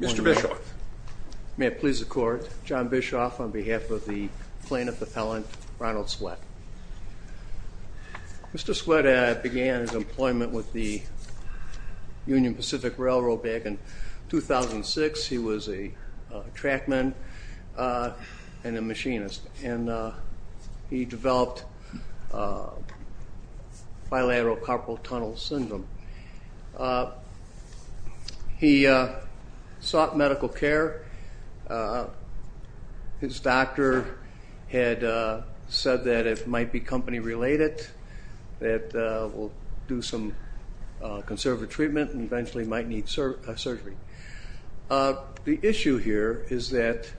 Mr. Bischoff. May it please the Court, John Bischoff on behalf of the plaintiff appellant Ronald Sweatt. Mr. Sweatt began his employment with the Union Pacific Railroad back in 2006. He was a trackman and a machinist and he developed bilateral carpal tunnel syndrome. He sought medical care. His doctor had said that it might be company related, that we'll do some conservative treatment and eventually might need surgery. The issue here is that,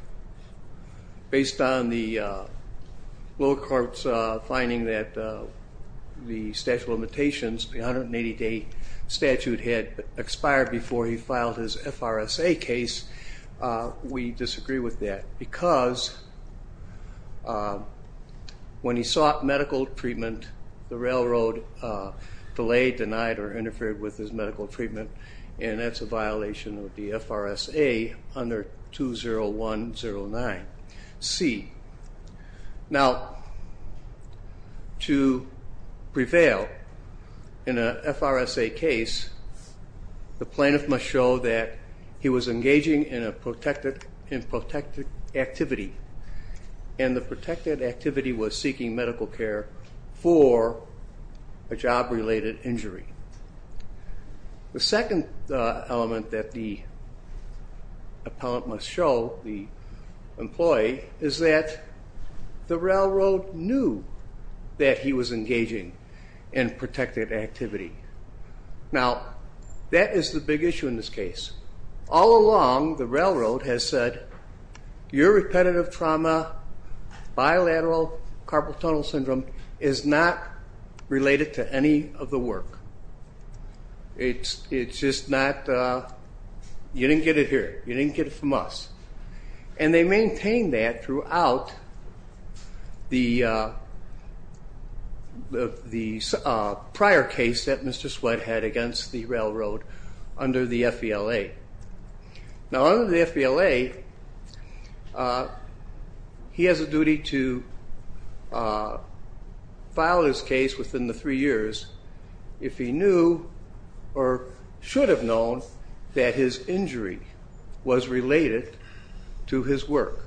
based on the lower court's finding that the statute of limitations, the 180 day statute had expired before he filed his FRSA case, we disagree with that because when he sought medical treatment, the railroad delayed, denied, or interfered with his medical treatment and that's a violation of the FRSA under 20109c. Now, to prevail in an FRSA case, the plaintiff must show that he was engaging in a protected activity and the protected activity was seeking medical care for a job related injury. The second element that the appellant must show the employee is that the railroad knew that he was engaging in protected activity. Now, that is the big issue in this case. All along, the railroad has said, your repetitive trauma, bilateral carpal tunnel syndrome is not related to any of the work. It's just not, you didn't get it here. You didn't get it from us. And they maintain that throughout the prior case that Mr. Sweatt had against the railroad under the FVLA. Now, under the FVLA, he has a duty to file his case within the three years if he knew or should have known that his injury was related to his work.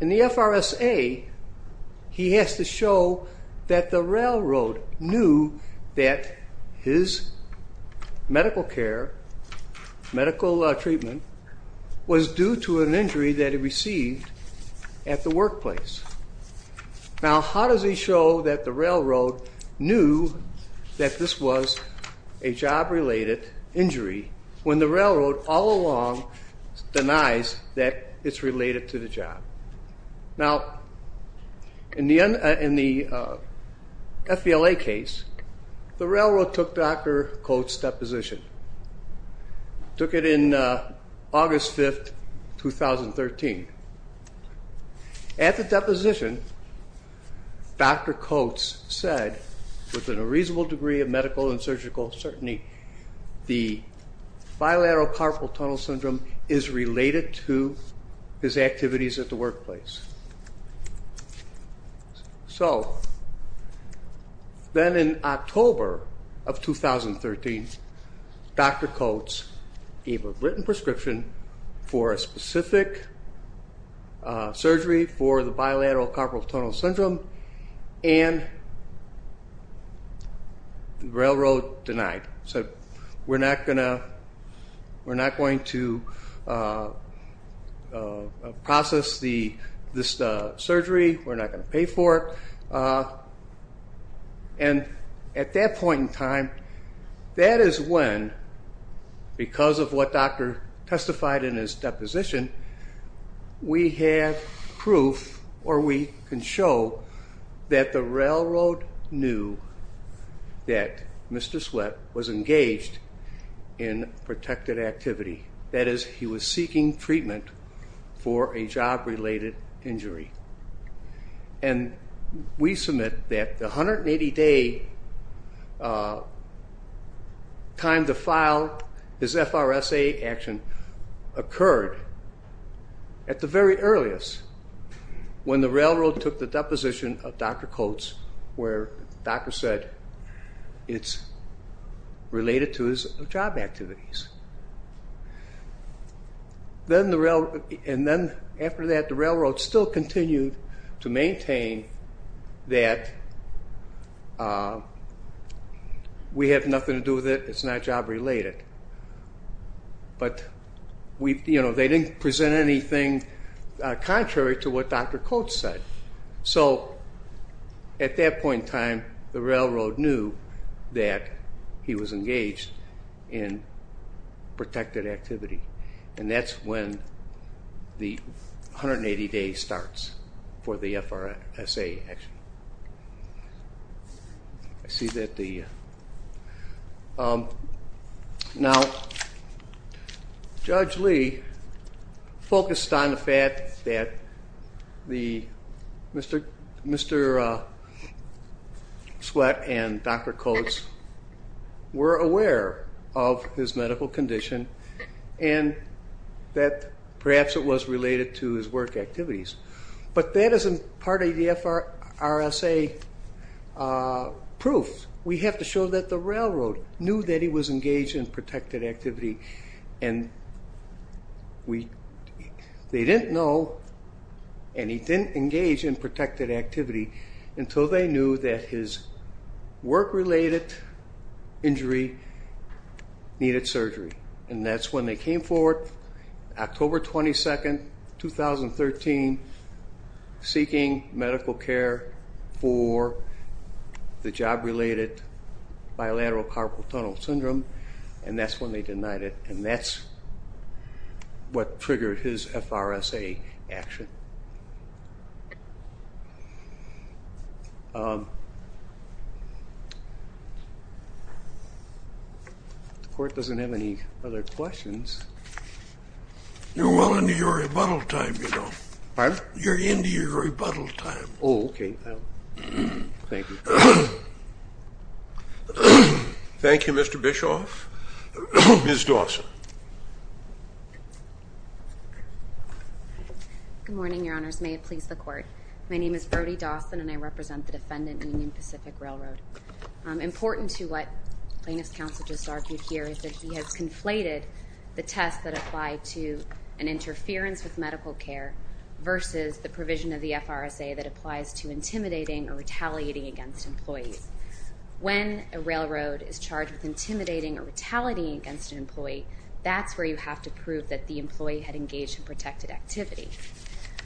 In the FRSA, he has to show that the railroad knew that his medical care, medical treatment was due to an injury that he received at the workplace. Now, how does he show that the railroad knew that this was a job related injury when the railroad all along denies that it's related to the job? Now, in the FVLA case, the railroad took Dr. Coates' deposition. Took it in August 5th, 2013. At the deposition, Dr. Coates said, with a reasonable degree of medical and surgical certainty, the bilateral carpal tunnel syndrome is related to his activities at the workplace. So, then in October of 2013, Dr. Coates gave a written prescription for a specific surgery for the bilateral carpal tunnel syndrome and the railroad denied. Said, we're not going to process this surgery. We're not going to pay for it. And at that point in time, that is when, because of what Dr. testified in his deposition, we have proof, or we can show, that the railroad knew that Mr. Sweat was engaged in protected activity. That is, he was seeking treatment for a job related injury. And we submit that the 180 day time to file his FRSA action occurred at the very earliest, when the railroad took the deposition of Dr. Coates, where the doctor said it's related to his job activities. And then after that, the railroad still continued to maintain that we have nothing to do with it, it's not job related. But they didn't present anything contrary to what Dr. Coates said. So, at that point in time, the railroad knew that he was engaged in protected activity. And that's when the 180 day starts for the FRSA action. Now, Judge Lee focused on the fact that Mr. Sweat and Dr. Coates were aware of his medical condition and that perhaps it was related to his work activities. But that isn't part of the FRSA proof. We have to show that the railroad knew that he was engaged in protected activity and they didn't know and he didn't engage in protected activity until they knew that his work related injury needed surgery. And that's when they came forward, October 22nd, 2013, seeking medical care for the job related bilateral carpal tunnel syndrome and that's when they denied it and that's what triggered his FRSA action. The court doesn't have any other questions. You're well into your rebuttal time, you know. Pardon? You're into your rebuttal time. Oh, okay. Thank you. Thank you, Mr. Bischoff. Ms. Dawson. Good morning, Your Honors. May it please the Court. My name is Brody Dawson and I represent the defendant in Union Pacific Railroad. Important to what plaintiff's counsel just argued here is that he has conflated the test that applied to an interference with medical care versus the provision of the FRSA that applies to intimidating or retaliating against employees. When a railroad is charged with intimidating or retaliating against an employee, that's where you have to prove that the employee had engaged in protected activity.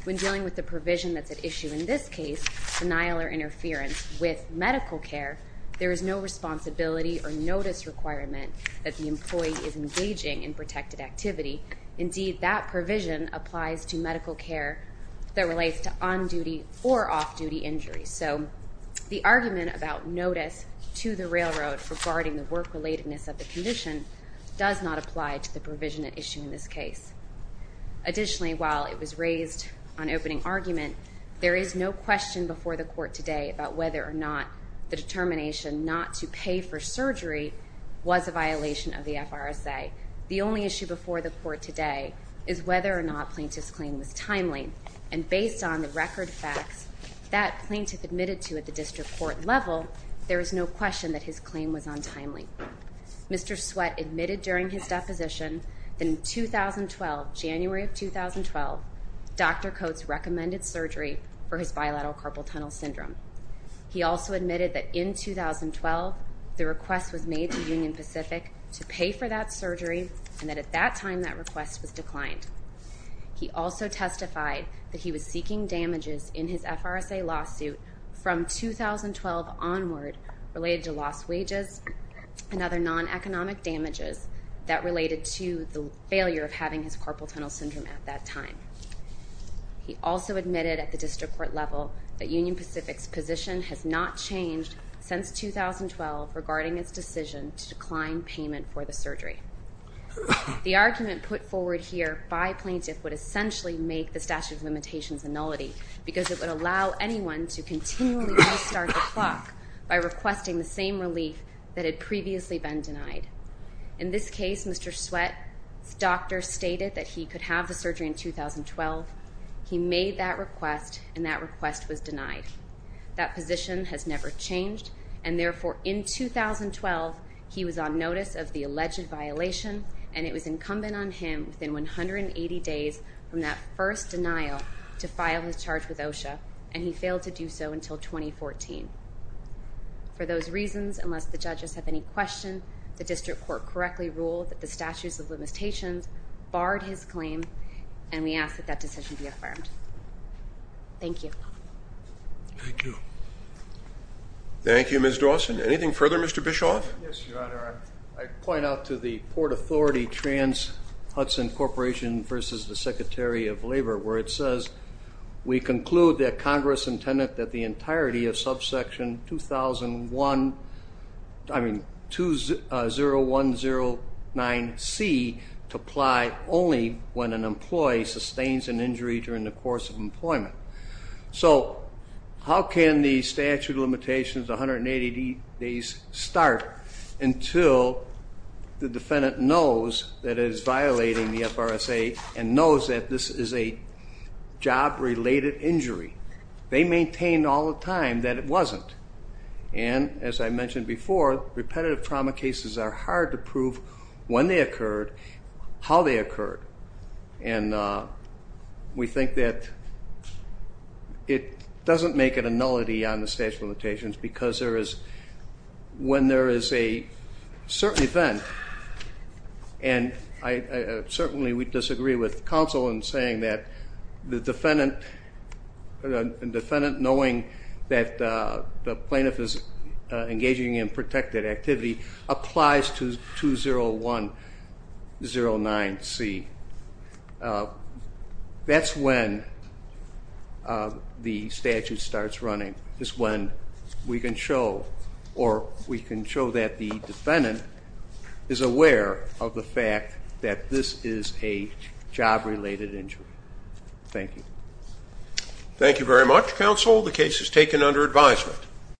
When dealing with the provision that's at issue in this case, denial or interference with medical care, there is no responsibility or notice requirement that the employee is engaging in protected activity. Indeed, that provision applies to medical care that relates to on-duty or off-duty injuries. So the argument about notice to the railroad regarding the work-relatedness of the condition does not apply to the provision at issue in this case. Additionally, while it was raised on opening argument, there is no question before the Court today about whether or not the determination not to pay for surgery was a violation of the FRSA. The only issue before the Court today is whether or not plaintiff's claim was timely. And based on the record facts that plaintiff admitted to at the district court level, there is no question that his claim was untimely. Mr. Sweat admitted during his deposition that in 2012, January of 2012, Dr. Coates recommended surgery for his bilateral carpal tunnel syndrome. He also admitted that in 2012, the request was made to Union Pacific to pay for that surgery and that at that time, that request was declined. He also testified that he was seeking damages in his FRSA lawsuit from 2012 onward related to lost wages and other non-economic damages that related to the failure of having his carpal tunnel syndrome at that time. He also admitted at the district court level that Union Pacific's position has not changed since 2012 regarding its decision to decline payment for the surgery. The argument put forward here by plaintiff would essentially make the statute of limitations a nullity because it would allow anyone to continually restart the clock by requesting the same relief that had previously been denied. In this case, Mr. Sweat's doctor stated that he could have the surgery in 2012. He made that request and that request was denied. That position has never changed and therefore in 2012, he was on notice of the alleged violation and it was incumbent on him within 180 days from that first denial to file his charge with OSHA and he failed to do so until 2014. For those reasons, unless the judges have any questions, the district court correctly ruled that the statutes of limitations barred his claim and we ask that that decision be affirmed. Thank you. Thank you. Thank you, Ms. Dawson. Anything further, Mr. Bischoff? Yes, Your Honor. I point out to the Port Authority Trans-Hudson Corporation versus the Secretary of Labor where it says, we conclude that Congress intended that the entirety of subsection 2001, I mean, 20109C to apply only when an employee sustains an injury during the course of employment. So how can the statute of limitations 180 days start until the defendant knows that it is violating the FRSA and knows that this is a job-related injury? They maintain all the time that it wasn't. And as I mentioned before, repetitive trauma cases are hard to prove when they occurred, how they occurred. And we think that it doesn't make it a nullity on the statute of limitations because there is, when there is a certain event, and certainly we disagree with counsel in saying that the defendant knowing that the plaintiff is engaging in protected activity applies to 20109C. That's when the statute starts running is when we can show or we can show that the defendant is aware of the fact that this is a job-related injury. Thank you. Thank you very much, counsel. The case is taken under advisement.